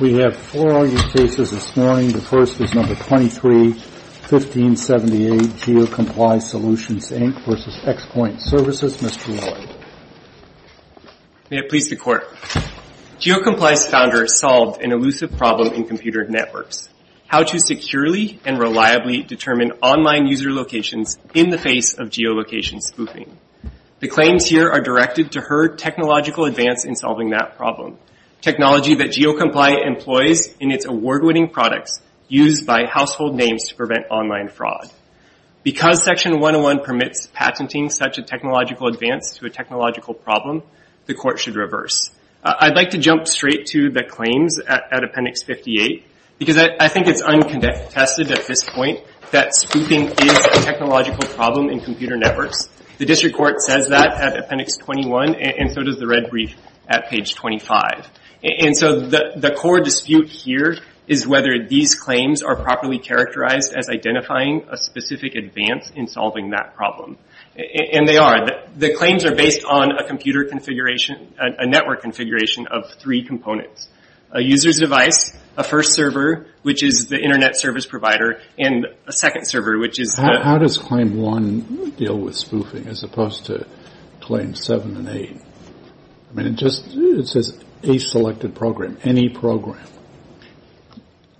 We have four all-use cases this morning. The first is No. 23-1578, GeoComply Solutions Inc. v. XPoint Services. Mr. Lillard. May it please the Court. GeoComply's founder solved an elusive problem in computer networks how to securely and reliably determine online user locations in the face of geolocation spoofing. The claims here are directed to her technological advance in solving that problem, technology that GeoComply employs in its award-winning products used by household names to prevent online fraud. Because Section 101 permits patenting such a technological advance to a technological problem, the Court should reverse. I'd like to jump straight to the claims at Appendix 58 because I think it's uncontested at this point that spoofing is a technological problem in computer networks. The District Court says that at Appendix 21, and so does the red brief at page 25. And so the core dispute here is whether these claims are properly characterized as identifying a specific advance in solving that problem. And they are. The claims are based on a computer configuration, a network configuration of three components. A user's device, a first server, which is the Internet service provider, and a second server, which is the... How does Claim 1 deal with spoofing as opposed to Claims 7 and 8? I mean, it just says a selected program, any program.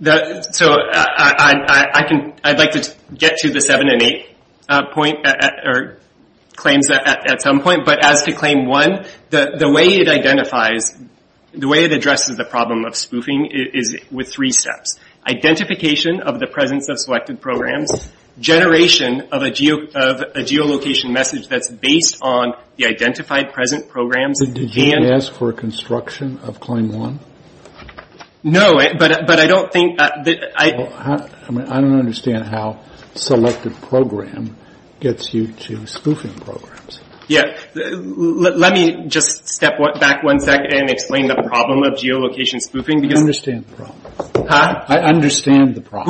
So I'd like to get to the 7 and 8 point, or claims at some point. But as to Claim 1, the way it identifies, the way it addresses the problem of spoofing is with three steps. Identification of the presence of selected programs. Generation of a geolocation message that's based on the identified present programs. Did you ask for a construction of Claim 1? No, but I don't think that... I mean, I don't understand how selected program gets you to spoofing programs. Let me just step back one second and explain the problem of geolocation spoofing. I understand the problem.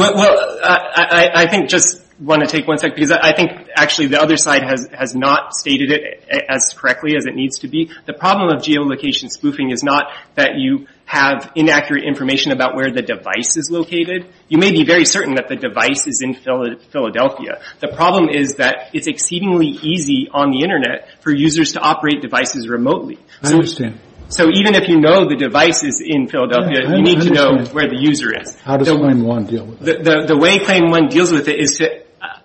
I think, just want to take one second, because I think actually the other side has not stated it as correctly as it needs to be. The problem of geolocation spoofing is not that you have inaccurate information about where the device is located. You may be very certain that the device is in Philadelphia. The problem is that it's exceedingly easy on the Internet for users to operate devices remotely. I understand. So even if you know the device is in Philadelphia, you need to know where the user is. How does Claim 1 deal with it? The way Claim 1 deals with it is to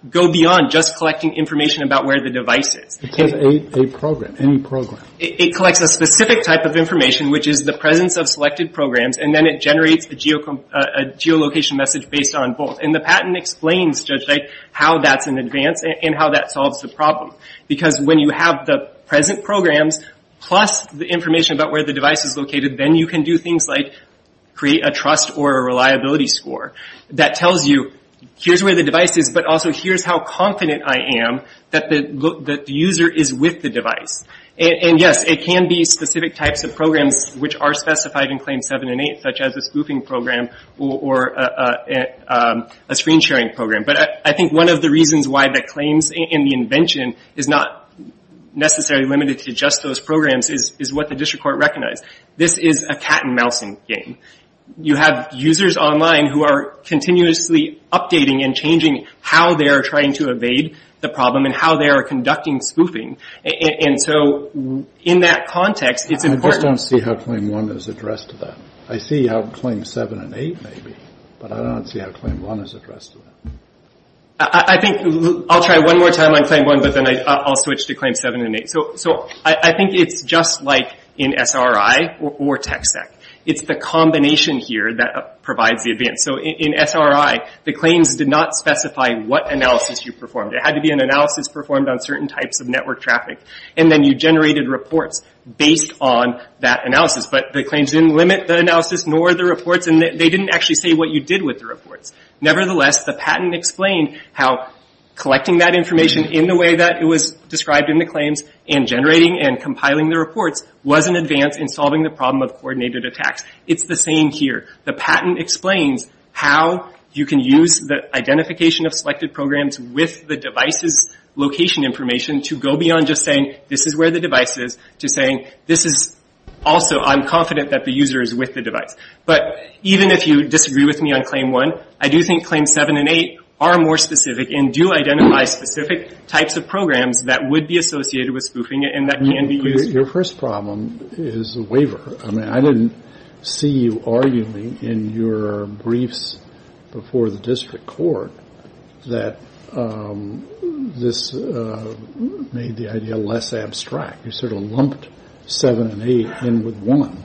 go beyond just collecting information about where the device is. It's just a program, any program. It collects a specific type of information, which is the presence of selected programs, and then it generates a geolocation message based on both. And the patent explains, Judge Wright, how that's an advance and how that solves the problem. Because when you have the present programs plus the information about where the device is located, then you can do things like create a trust or a reliability score that tells you, here's where the device is, but also here's how confident I am that the user is with the device. And yes, it can be specific types of programs which are specified in Claim 7 and 8, such as a spoofing program or a screen sharing program. But I think one of the reasons why the claims and the invention is not necessarily limited to just those programs is what the district court recognized. This is a cat and mousing game. You have users online who are continuously updating and changing how they are trying to evade the problem and how they are conducting spoofing. And so in that context, it's important. I just don't see how Claim 1 is addressed to that. I see how Claim 7 and 8 may be, but I don't see how Claim 1 is addressed to that. I think, I'll try one more time on Claim 1, but then I'll switch to Claim 7 and 8. So I think it's just like in SRI or TxEC. It's the combination here that provides the advance. So in SRI, the claims did not specify what analysis you performed. It had to be an analysis performed on certain types of network traffic, and then you generated reports based on that analysis. But the claims didn't limit the analysis nor the reports, and they didn't actually say what you did with the reports. Nevertheless, the patent explained how collecting that information in the way that it was described in the claims and generating and compiling the reports was an advance in solving the problem of coordinated attacks. It's the same here. The patent explains how you can use the identification of selected programs with the device's location information to go beyond just saying, this is where the device is, to saying, this is also, I'm confident that the user is with the device. But even if you disagree with me on Claim 1, I do think Claims 7 and 8 are more specific and do identify specific types of programs that would be associated with spoofing it and that can be used. Your first problem is the waiver. I mean, I didn't see you arguing in your briefs before the district court that this made the idea less abstract. You sort of lumped Claims 7 and 8 in with 1,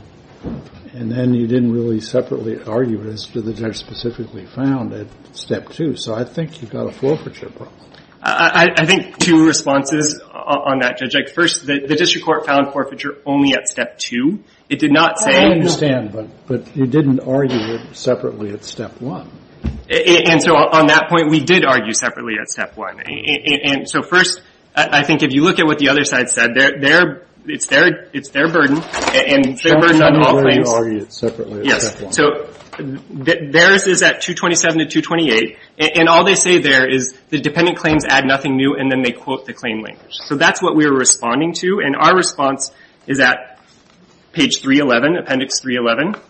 and then you didn't really separately argue as to the judge specifically found at Step 2. So I think you've got a forfeiture problem. I think two responses on that, Judge Icke. First, the district court found forfeiture only at Step 2. It did not say — I understand, but you didn't argue separately at Step 1. And so on that point, we did argue separately at Step 1. And so first, I think if you look at what the other side said, it's their burden, and they're burdened on all claims. I'm not sure whether you argued separately at Step 1. Yes. So theirs is at 227 to 228, and all they say there is the dependent claims add nothing new, and then they quote the claim language. So that's what we were responding to, and our response is at page 311, Appendix 311.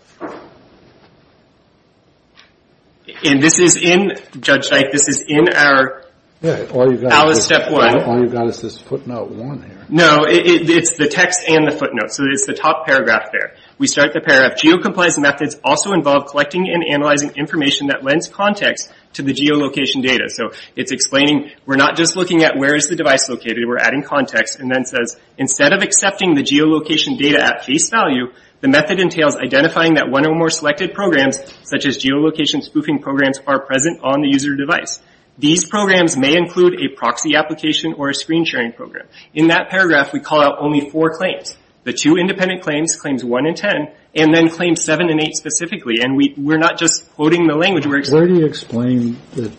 And this is in — Judge Icke, this is in our — Yeah, all you've got —— Alice Step 1. All you've got is this footnote 1 here. No, it's the text and the footnote. So it's the top paragraph there. We start the paragraph, Geocompliance methods also involve collecting and analyzing information that lends context to the geolocation data. So it's explaining, we're not just looking at where is the device located, we're adding context, and then says, instead of accepting the geolocation data at face value, the method entails identifying that one or more selected programs, such as geolocation spoofing programs, are present on the user device. These programs may include a proxy application or a screen-sharing program. In that paragraph, we call out only four claims. The two independent claims, claims 1 and 10, and then claims 7 and 8 specifically, and we're not just quoting the language, we're — Where do you explain that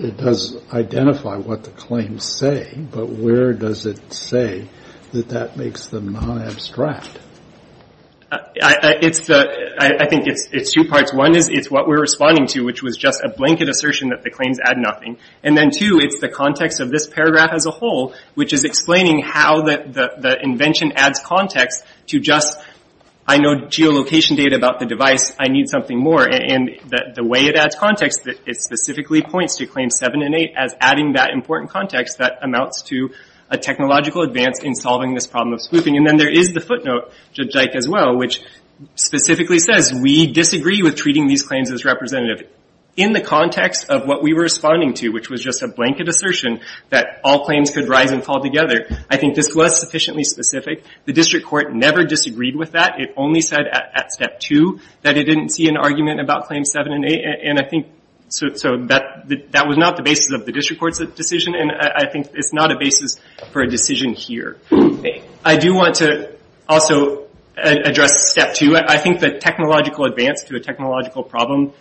it does identify what the claims say, but where does it say that that makes them non-abstract? It's the — I think it's two parts. One is it's what we're responding to, which was a blanket assertion that the claims add nothing. And then two, it's the context of this paragraph as a whole, which is explaining how the invention adds context to just, I know geolocation data about the device, I need something more. And the way it adds context, it specifically points to claims 7 and 8 as adding that important context that amounts to a technological advance in solving this problem of spoofing. And then there is the footnote, which specifically says, we disagree with treating these claims as representative in the context of what we were responding to, which was just a blanket assertion that all claims could rise and fall together. I think this was sufficiently specific. The district court never disagreed with that. It only said at step 2 that it didn't see an argument about claims 7 and 8, and I think — so that was not the basis of the district court's decision, and I think it's not a basis for a decision here. I do want to also address step 2. I think the technological advance to a technological problem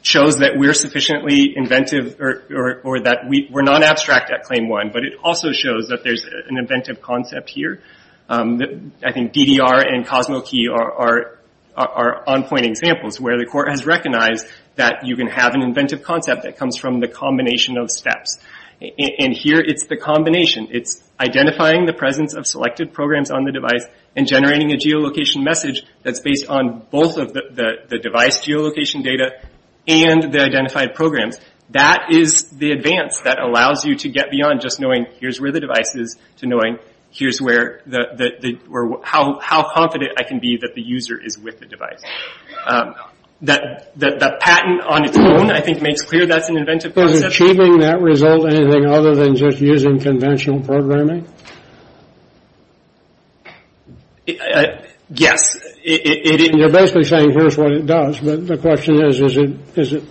shows that we're sufficiently inventive, or that we're not abstract at claim 1, but it also shows that there's an inventive concept here. I think DDR and CosmoKey are on-point examples where the court has recognized that you can have an inventive concept that comes from the combination of steps. And here it's the combination. It's identifying the presence of selected programs on the device and generating a geolocation message that's based on both of the device geolocation data and the identified programs. That is the advance that allows you to get beyond just knowing here's where the device is to knowing here's how confident I can be that the user is with the device. The patent on its own, I think, makes clear that's an inventive concept. So is achieving that result anything other than just using conventional programming? Yes. You're basically saying here's what it does, but the question is, is it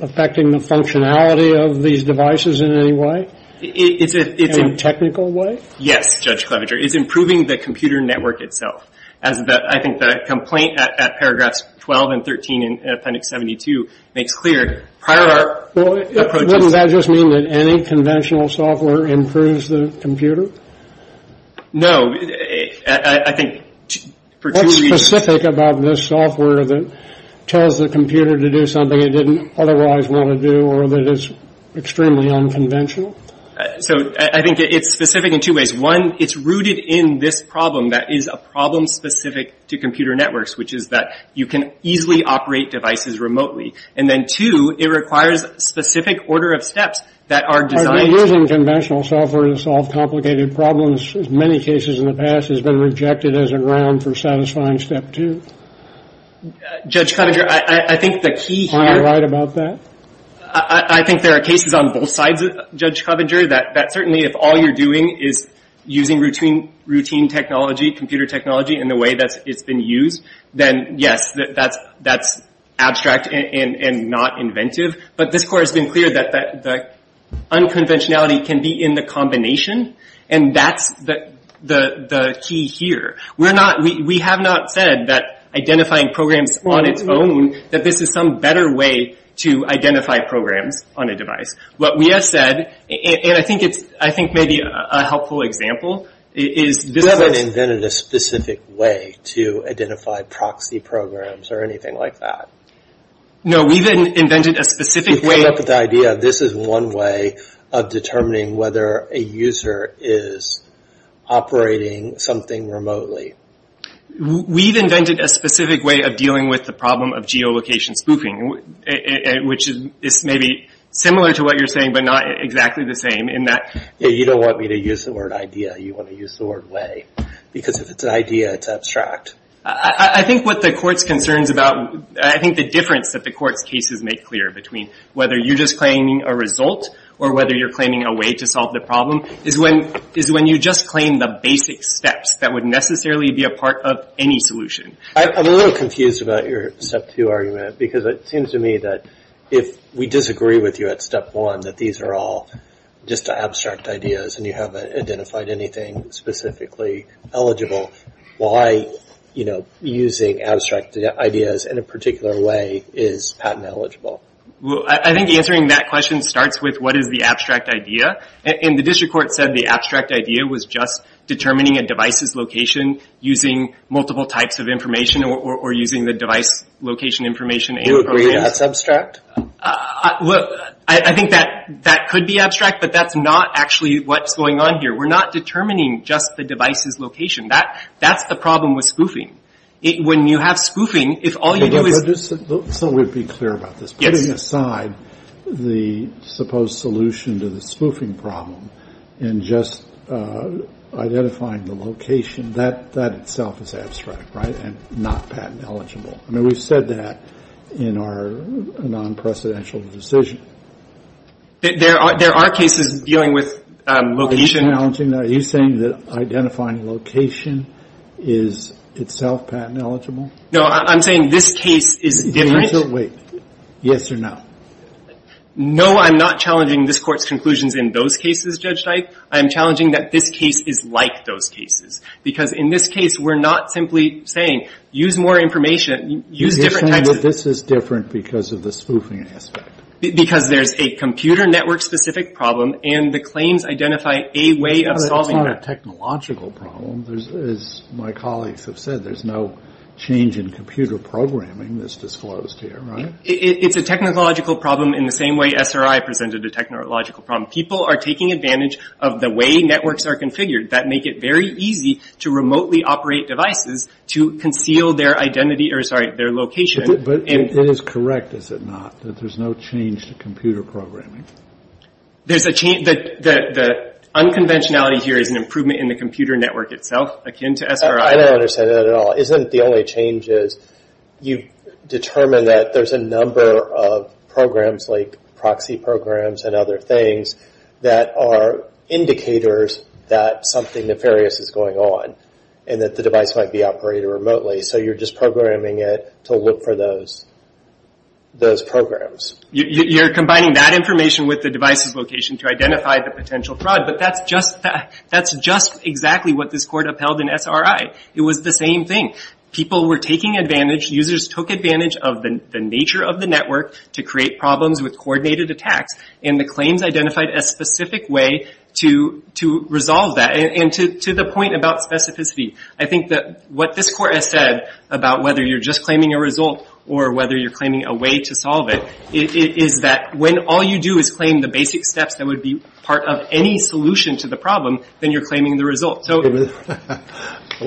affecting the functionality of these devices in any way? In a technical way? Yes, Judge Clevenger. It's improving the computer network itself. I think the complaint at paragraphs 12 and 13 in Appendix 72 makes clear prior to our approach... Wouldn't that just mean that any conventional software improves the computer? No. I think for two reasons... What's specific about this software that tells the computer to do something it didn't otherwise want to do or that is extremely unconventional? So I think it's specific in two ways. One, it's rooted in this problem that is a problem specific to computer networks, which is that you can easily operate devices remotely. And two, it requires specific order of steps that are designed... Using conventional software to solve complicated problems, in many cases in the past, has been rejected as a ground for satisfying step two. Judge Clevenger, I think the key here... Are you right about that? I think there are cases on both sides, Judge Clevenger, that certainly if all you're doing is using routine technology, computer technology, in the way that it's been used, then yes, that's abstract and not inventive. But this court has been clear that the unconventionality can be in the combination, and that's the key here. We have not said that identifying programs on its own, that this is some better way to identify programs on a device. What we have said, and I think maybe a helpful example is... We haven't invented a specific way to identify proxy programs or anything like that. No, we've invented a specific way... We've come up with the idea, this is one way of determining whether a user is operating something remotely. We've invented a specific way of dealing with the problem of geolocation spoofing, which is maybe similar to what you're saying, but not exactly the same in that... You don't want me to use the word idea, you want to use the word way. Because if it's an idea, it's abstract. I think what the court's concerns about... I think the difference that the court's cases make clear between whether you're just claiming a result or whether you're claiming a way to solve the problem is when you just claim the basic steps that would necessarily be a part of any solution. I'm a little confused about your Step 2 argument, because it seems to me that if we disagree with you at Step 1, that these are all just abstract ideas and you haven't identified anything specifically eligible. Why using abstract ideas in a particular way is patent eligible? I think answering that question starts with what is the abstract idea? The district court said the abstract idea was just determining a device's location using multiple types of information or using the device location information and... Do you agree that's abstract? I think that could be abstract, but that's not actually what's going on here. We're not determining just the device's location. That's the problem with spoofing. When you have spoofing, if all you do is... So we'd be clear about this? Yes. Putting aside the supposed solution to the spoofing problem and just identifying the location, that itself is abstract, right, and not patent eligible. I mean, we've said that in our non-precedential decision. There are cases dealing with location. Are you challenging that? Are you saying that identifying location is itself patent eligible? No, I'm saying this case is different. Wait. Yes or no? No, I'm not challenging this Court's conclusions in those cases, Judge Dyke. I am challenging that this case is like those cases, because in this case, we're not simply saying, use more information, use different types of... You're saying that this is different because of the spoofing aspect. Because there's a computer network-specific problem, and the claims identify a way of solving that. It's not a technological problem. As my colleagues have said, there's no change in computer programming that's disclosed here, right? It's a technological problem in the same way SRI presented a technological problem. People are taking advantage of the way networks are configured that make it very easy to remotely operate devices to conceal their identity or, sorry, their location. But it is correct, is it not, that there's no change to computer programming? The unconventionality here is an improvement in the computer network itself, akin to SRI. I don't understand that at all. Isn't the only change is you determine that there's a number of programs, like proxy programs and other things, that are indicators that something nefarious is going on, and that the device might be operated remotely. So you're just programming it to look for those programs. You're combining that information with the device's location to identify the potential fraud, but that's just exactly what this court upheld in SRI. It was the same thing. People were taking advantage. Users took advantage of the nature of the network to create problems with coordinated attacks, and the claims identified a specific way to resolve that. And to the point about specificity, I think that what this court has said about whether you're just claiming a result or whether you're claiming a way to solve it is that when all you do is claim the basic steps that would be part of any solution to the problem, then you're claiming the result.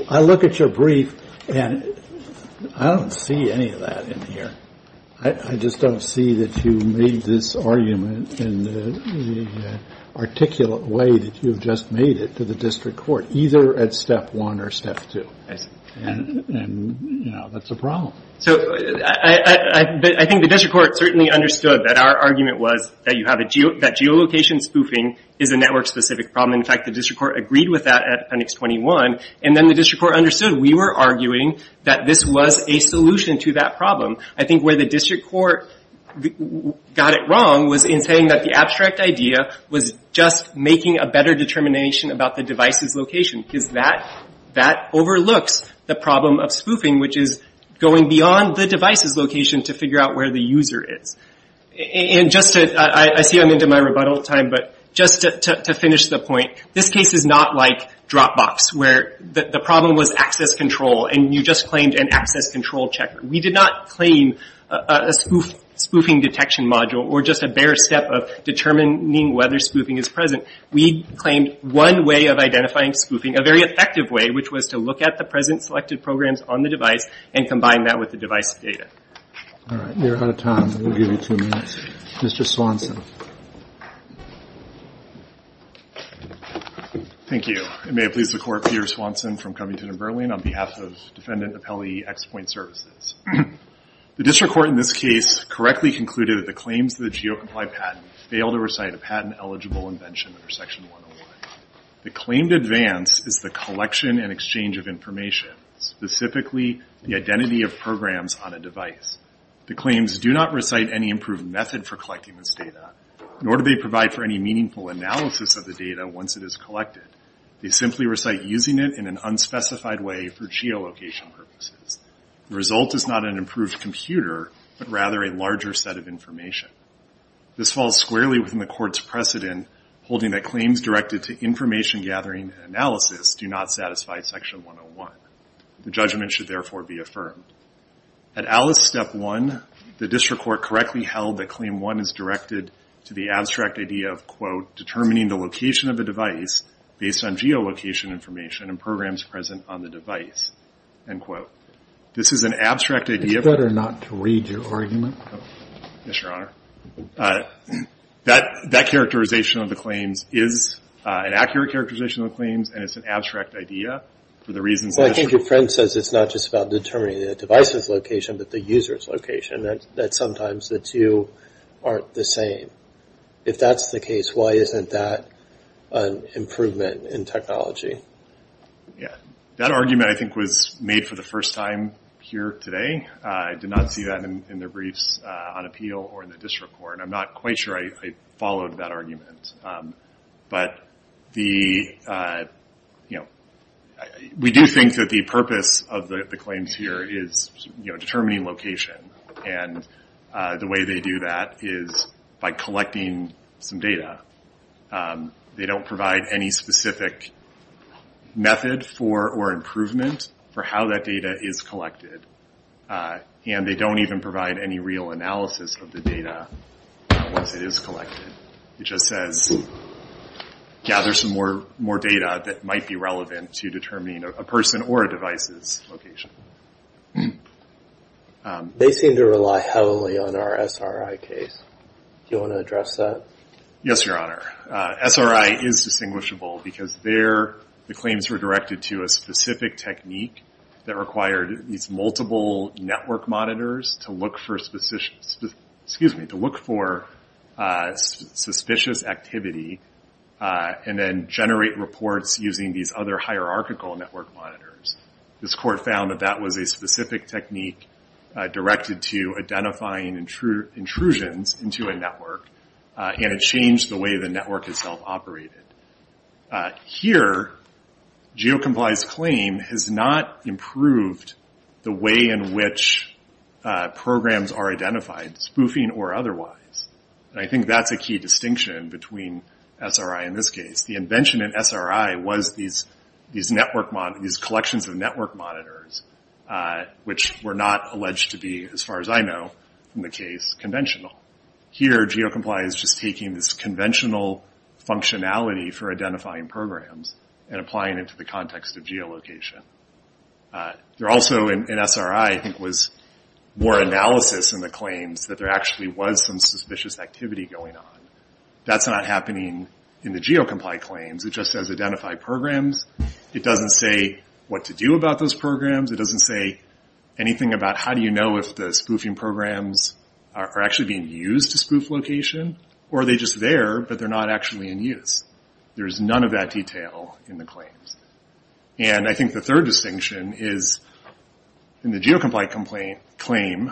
I look at your brief, and I don't see any of that in here. I just don't see that you made this argument in the articulate way that you've just made it to the district court, either at step one or step two. And, you know, that's a problem. I think the district court certainly understood that our argument was that geolocation spoofing is a network-specific problem. In fact, the district court agreed with that at appendix 21, and then the district court understood we were arguing that this was a solution to that problem. I think where the district court got it wrong was in saying that the abstract idea was just making a better determination about the device's location, because that overlooks the problem of spoofing, which is going beyond the device's location to figure out where the user is. I see I'm into my rebuttal time, but just to finish the point, this case is not like Dropbox, where the problem was access control, and you just claimed an access control checker. We did not claim a spoofing detection module or just a bare step of determining whether spoofing is present. We claimed one way of identifying spoofing, a very effective way, which was to look at the present selected programs on the device and combine that with the device data. All right, we're out of time. We'll give you two minutes. Mr. Swanson. Thank you, and may it please the Court, Peter Swanson from Covington & Burling, on behalf of Defendant Appellee X Point Services. The district court in this case correctly concluded that the claims of the GEOComplied patent failed to recite a patent-eligible invention under Section 101. The claimed advance is the collection and exchange of information, specifically the identity of programs on a device. The claims do not recite any improved method for collecting this data, nor do they provide for any meaningful analysis of the data once it is collected. They simply recite using it in an unspecified way for geolocation purposes. The result is not an improved computer, but rather a larger set of information. This falls squarely within the court's precedent, holding that claims directed to information gathering and analysis do not satisfy Section 101. The judgment should, therefore, be affirmed. At ALICE Step 1, the district court correctly held that Claim 1 is directed to the abstract idea of, quote, determining the location of a device based on geolocation information and programs present on the device, end quote. This is an abstract idea of It's better not to read your argument. Yes, Your Honor. That characterization of the claims is an accurate characterization of the claims, and it's an abstract idea for the reasons that Well, I think your friend says it's not just about determining the device's location, but the user's location, that sometimes the two aren't the same. If that's the case, why isn't that an improvement in technology? Yeah. That argument, I think, was made for the first time here today. I did not see that in the briefs on appeal or in the district court, and I'm not quite sure I followed that argument. But we do think that the purpose of the claims here is determining location, and the way they do that is by collecting some data. They don't provide any specific method for or improvement for how that data is collected. And they don't even provide any real analysis of the data once it is collected. It just says gather some more data that might be relevant to determining a person or a device's location. They seem to rely heavily on our SRI case. Do you want to address that? Yes, Your Honor. SRI is distinguishable because the claims were directed to a specific technique that required these multiple network monitors to look for suspicious activity and then generate reports using these other hierarchical network monitors. This court found that that was a specific technique directed to identifying intrusions into a network, and it changed the way the network itself operated. Here, GeoComply's claim has not improved the way in which programs are identified, spoofing or otherwise. I think that's a key distinction between SRI and this case. The invention in SRI was these collections of network monitors, which were not alleged to be, as far as I know, in the case, conventional. Here, GeoComply is just taking this conventional functionality for identifying programs and applying it to the context of geolocation. Also in SRI was more analysis in the claims that there actually was some suspicious activity going on. That's not happening in the GeoComply claims. It just says identify programs. It doesn't say what to do about those programs. It doesn't say anything about how do you know if the spoofing programs are actually being used to spoof location, or are they just there, but they're not actually in use. There's none of that detail in the claims. I think the third distinction is, in the GeoComply claim,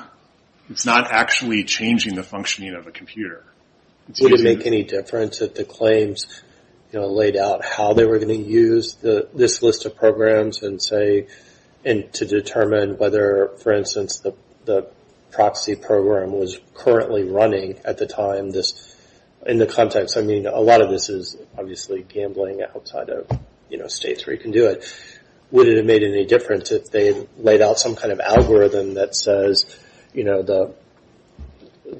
it's not actually changing the functioning of a computer. Would it make any difference if the claims laid out how they were going to use this list of programs and to determine whether, for instance, the proxy program was currently running at the time in the context. A lot of this is obviously gambling outside of states where you can do it. Would it have made any difference if they laid out some kind of algorithm that says the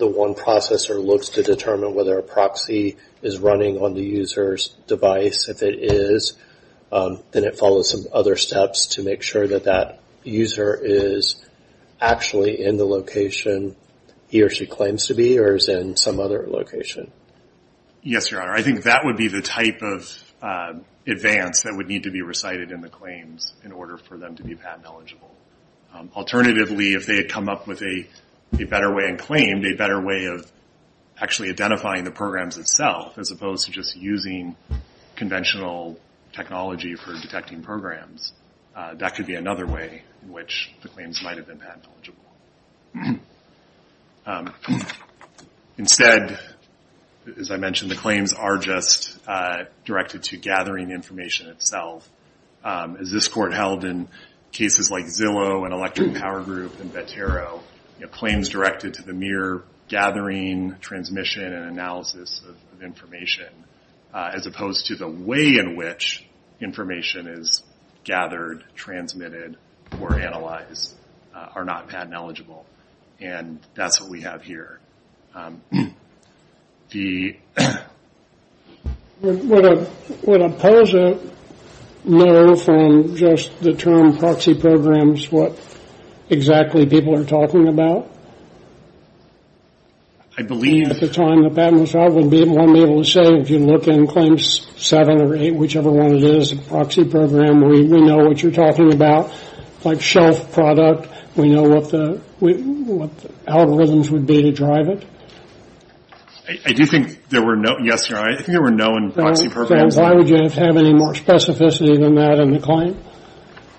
one processor looks to determine whether a proxy is running on the user's device. If it is, then it follows some other steps to make sure that that user is actually in the location he or she claims to be, or is in some other location. Yes, Your Honor. I think that would be the type of advance that would need to be recited in the claims in order for them to be patent eligible. Alternatively, if they had come up with a better way and claimed a better way of actually identifying the programs itself, as opposed to just using conventional technology for detecting programs, that could be another way in which the claims might have been patent eligible. Instead, as I mentioned, the claims are just directed to gathering information itself. As this Court held in cases like Zillow and Electric Power Group and Vetero, claims directed to the mere gathering, transmission, and analysis of information, as opposed to the way in which information is gathered, transmitted, or analyzed, are not patent eligible. And that's what we have here. The... Would a poser know from just the term proxy programs what exactly people are talking about? I believe... At the time the patent was filed, would one be able to say, if you look in Claims 7 or 8, whichever one it is, a proxy program, we know what you're talking about. Like shelf product, we know what the algorithms would be to drive it. I do think there were no... Yes, Your Honor, I think there were no proxy programs. Then why would you have any more specificity than that in the claim?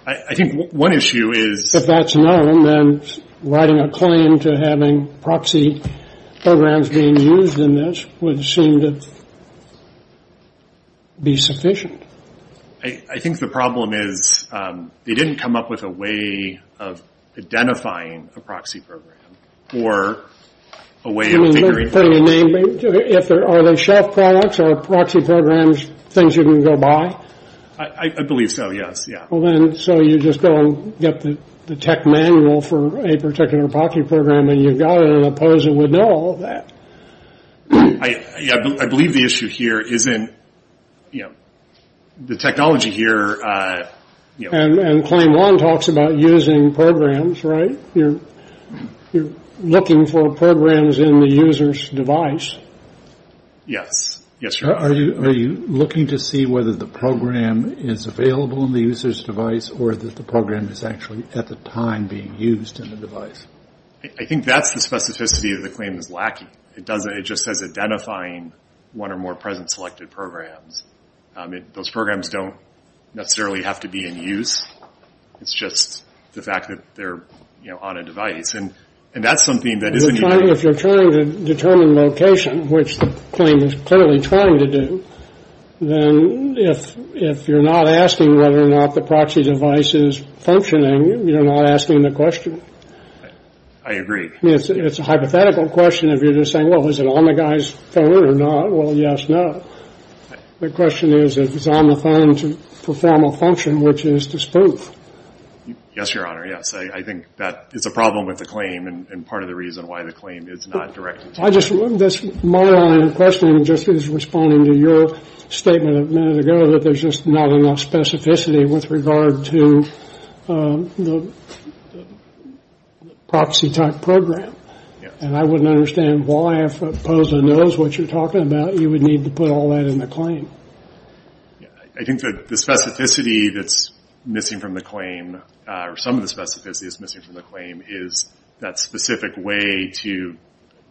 I think one issue is... If that's known, then writing a claim to having proxy programs being used in this would seem to be sufficient. I think the problem is they didn't come up with a way of identifying a proxy program or a way of figuring out... Are they shelf products or proxy programs, things you can go buy? I believe so, yes. So you just go and get the tech manual for a particular proxy program, and you've got it, and a poser would know all of that. I believe the issue here isn't... The technology here... And Claim 1 talks about using programs, right? You're looking for programs in the user's device. Yes, yes, Your Honor. Are you looking to see whether the program is available in the user's device or that the program is actually at the time being used in the device? I think that's the specificity that the claim is lacking. It just says identifying one or more present selected programs. Those programs don't necessarily have to be in use. It's just the fact that they're on a device. And that's something that isn't... If you're trying to determine location, which the claim is clearly trying to do, then if you're not asking whether or not the proxy device is functioning, you're not asking the question. I agree. It's a hypothetical question if you're just saying, well, is it on the guy's phone or not? Well, yes, no. The question is if it's on the phone to perform a function, which is to spoof. Yes, Your Honor, yes. I think that is a problem with the claim and part of the reason why the claim is not directed to... My line of questioning just is responding to your statement a minute ago that there's just not enough specificity with regard to the proxy-type program. And I wouldn't understand why, if POSA knows what you're talking about, you would need to put all that in the claim. I think the specificity that's missing from the claim, or some of the specificity that's missing from the claim is that specific way to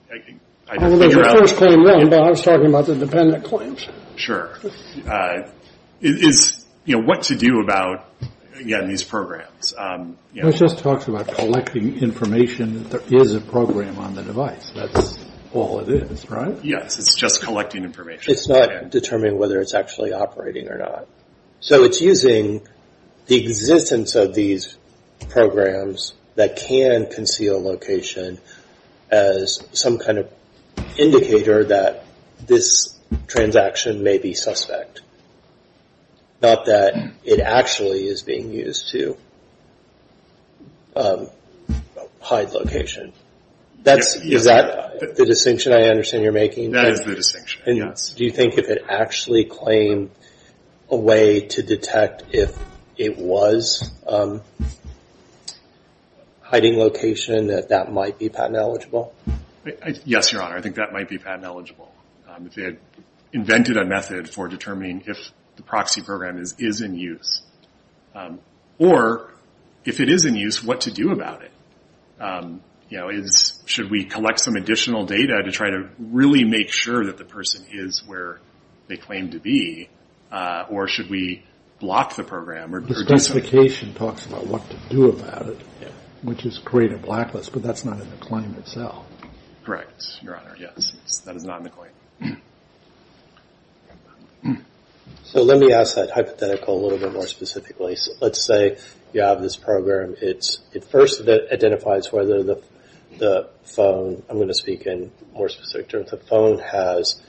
figure out... Well, there's a first claim then, but I was talking about the dependent claims. Sure. It is what to do about, again, these programs. It just talks about collecting information that there is a program on the device. That's all it is, right? Yes, it's just collecting information. It's not determining whether it's actually operating or not. So it's using the existence of these programs that can conceal location as some kind of indicator that this transaction may be suspect, not that it actually is being used to hide location. Is that the distinction I understand you're making? That is the distinction, yes. Do you think if it actually claimed a way to detect if it was hiding location, that that might be patent eligible? Yes, Your Honor, I think that might be patent eligible. If it invented a method for determining if the proxy program is in use. Or, if it is in use, what to do about it? Should we collect some additional data to try to really make sure that the person is where they claim to be? Or should we block the program? The specification talks about what to do about it, which is create a blacklist, but that's not in the claim itself. Correct, Your Honor, yes. That is not in the claim. So let me ask that hypothetical a little bit more specifically. Let's say you have this program. It first identifies whether the phone, I'm going to speak in more specific terms, the phone has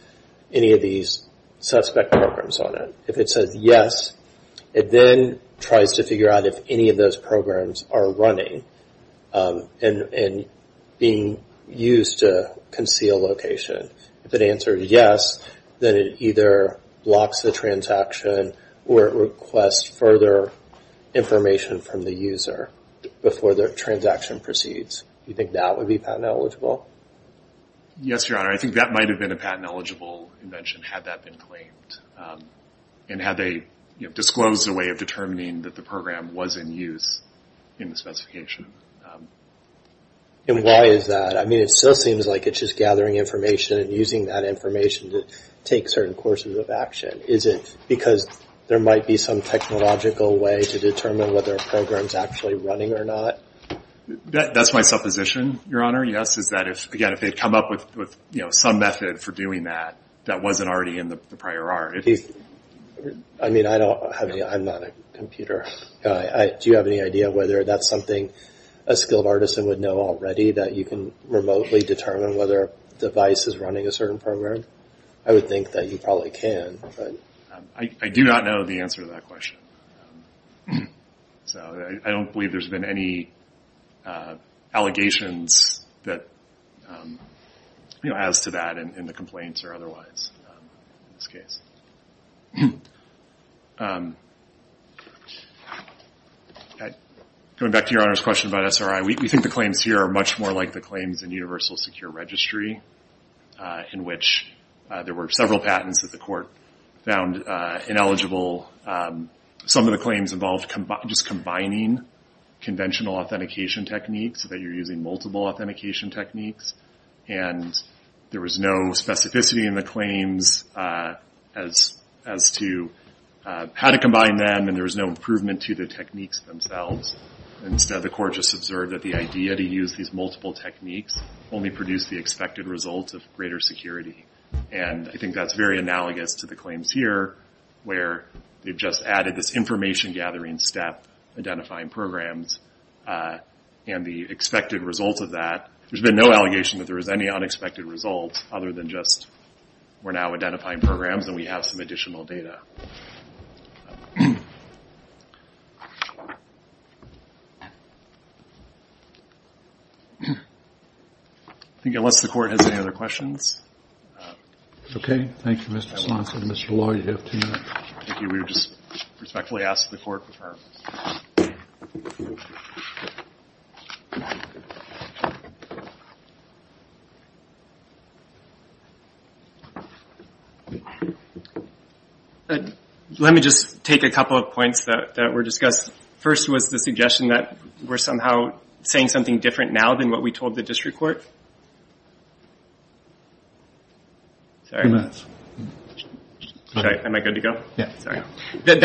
any of these suspect programs on it. If it says yes, it then tries to figure out if any of those programs are running and being used to conceal location. If it answers yes, then it either blocks the transaction or it requests further information from the user before the transaction proceeds. Do you think that would be patent eligible? Yes, Your Honor. I think that might have been a patent eligible invention had that been claimed and had they disclosed a way of determining that the program was in use in the specification. And why is that? I mean, it still seems like it's just gathering information and using that information to take certain courses of action. Is it because there might be some technological way to determine whether a program is actually running or not? That's my supposition, Your Honor, yes, is that again if they had come up with some method for doing that that wasn't already in the prior art. I mean, I'm not a computer guy. Do you have any idea whether that's something a skilled artisan would know already, that you can remotely determine whether a device is running a certain program? I would think that you probably can. I do not know the answer to that question. So I don't believe there's been any allegations as to that in the complaints or otherwise in this case. Going back to Your Honor's question about SRI, we think the claims here are much more like the claims in Universal Secure Registry in which there were several patents that the court found ineligible. Some of the claims involved just combining conventional authentication techniques, that you're using multiple authentication techniques, and there was no specificity in the claims as to how to combine them, and there was no improvement to the techniques themselves. Instead, the court just observed that the idea to use these multiple techniques only produced the expected results of greater security, and I think that's very analogous to the claims here where they've just added this information-gathering step, identifying programs, and the expected results of that. There's been no allegation that there was any unexpected results other than just we're now identifying programs and we have some additional data. I think unless the court has any other questions. Okay. Thank you, Mr. Swanson. Mr. Law, you have two minutes. Thank you. We would just respectfully ask the court to defer. Let me just take a couple of points that were discussed. First was the suggestion that we're somehow saying something different now than what we told the district court. That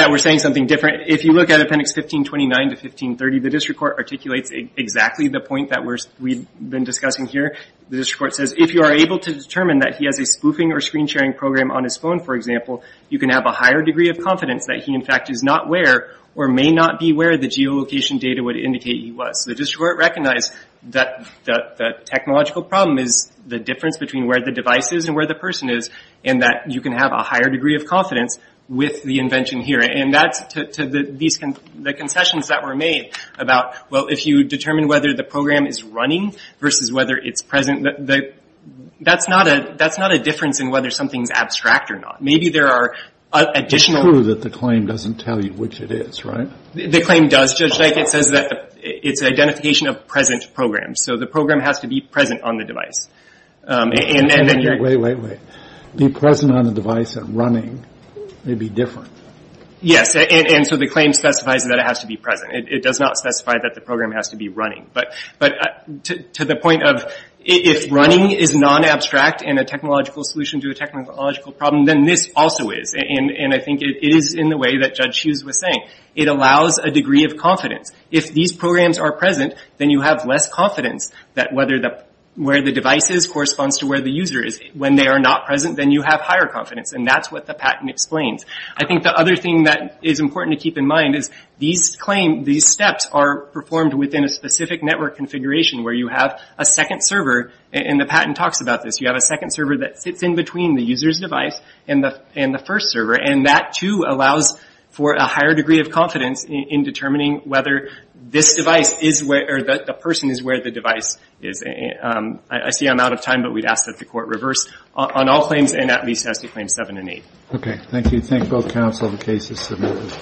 we're saying something different. If you look at Appendix 1529 to 1530, the district court articulates exactly the point that we've been discussing here. The district court says, if you are able to determine that he has a spoofing or screen-sharing program on his phone, for example, you can have a higher degree of confidence that he in fact is not where, or may not be where, the geolocation data would indicate he was. The district court recognized that the technological problem is the difference between where the device is and where the person is, and that you can have a higher degree of confidence with the invention here. And that's to the concessions that were made about, well, if you determine whether the program is running versus whether it's present, that's not a difference in whether something's abstract or not. Maybe there are additional... It's true that the claim doesn't tell you which it is, right? The claim does, Judge Dyke. It says that it's an identification of present programs. So the program has to be present on the device. And then you're... Wait, wait, wait. Be present on the device and running may be different. Yes. And so the claim specifies that it has to be present. It does not specify that the program has to be running. But to the point of, if running is non-abstract and a technological solution to a technological problem, then this also is. And I think it is in the way that Judge Hughes was saying. It allows a degree of confidence. If these programs are present, then you have less confidence that where the device is corresponds to where the user is. When they are not present, then you have higher confidence. And that's what the patent explains. I think the other thing that is important to keep in mind is these claims, these steps are performed within a specific network configuration where you have a second server. And the patent talks about this. You have a second server that sits in between the user's device and the first server. And that, too, allows for a higher degree of confidence in determining whether this device is where the person is where the device is. I see I'm out of time, but we'd ask that the Court reverse on all claims and at least as to Claims 7 and 8. Okay. Thank you. Thank both counsel. The case is submitted.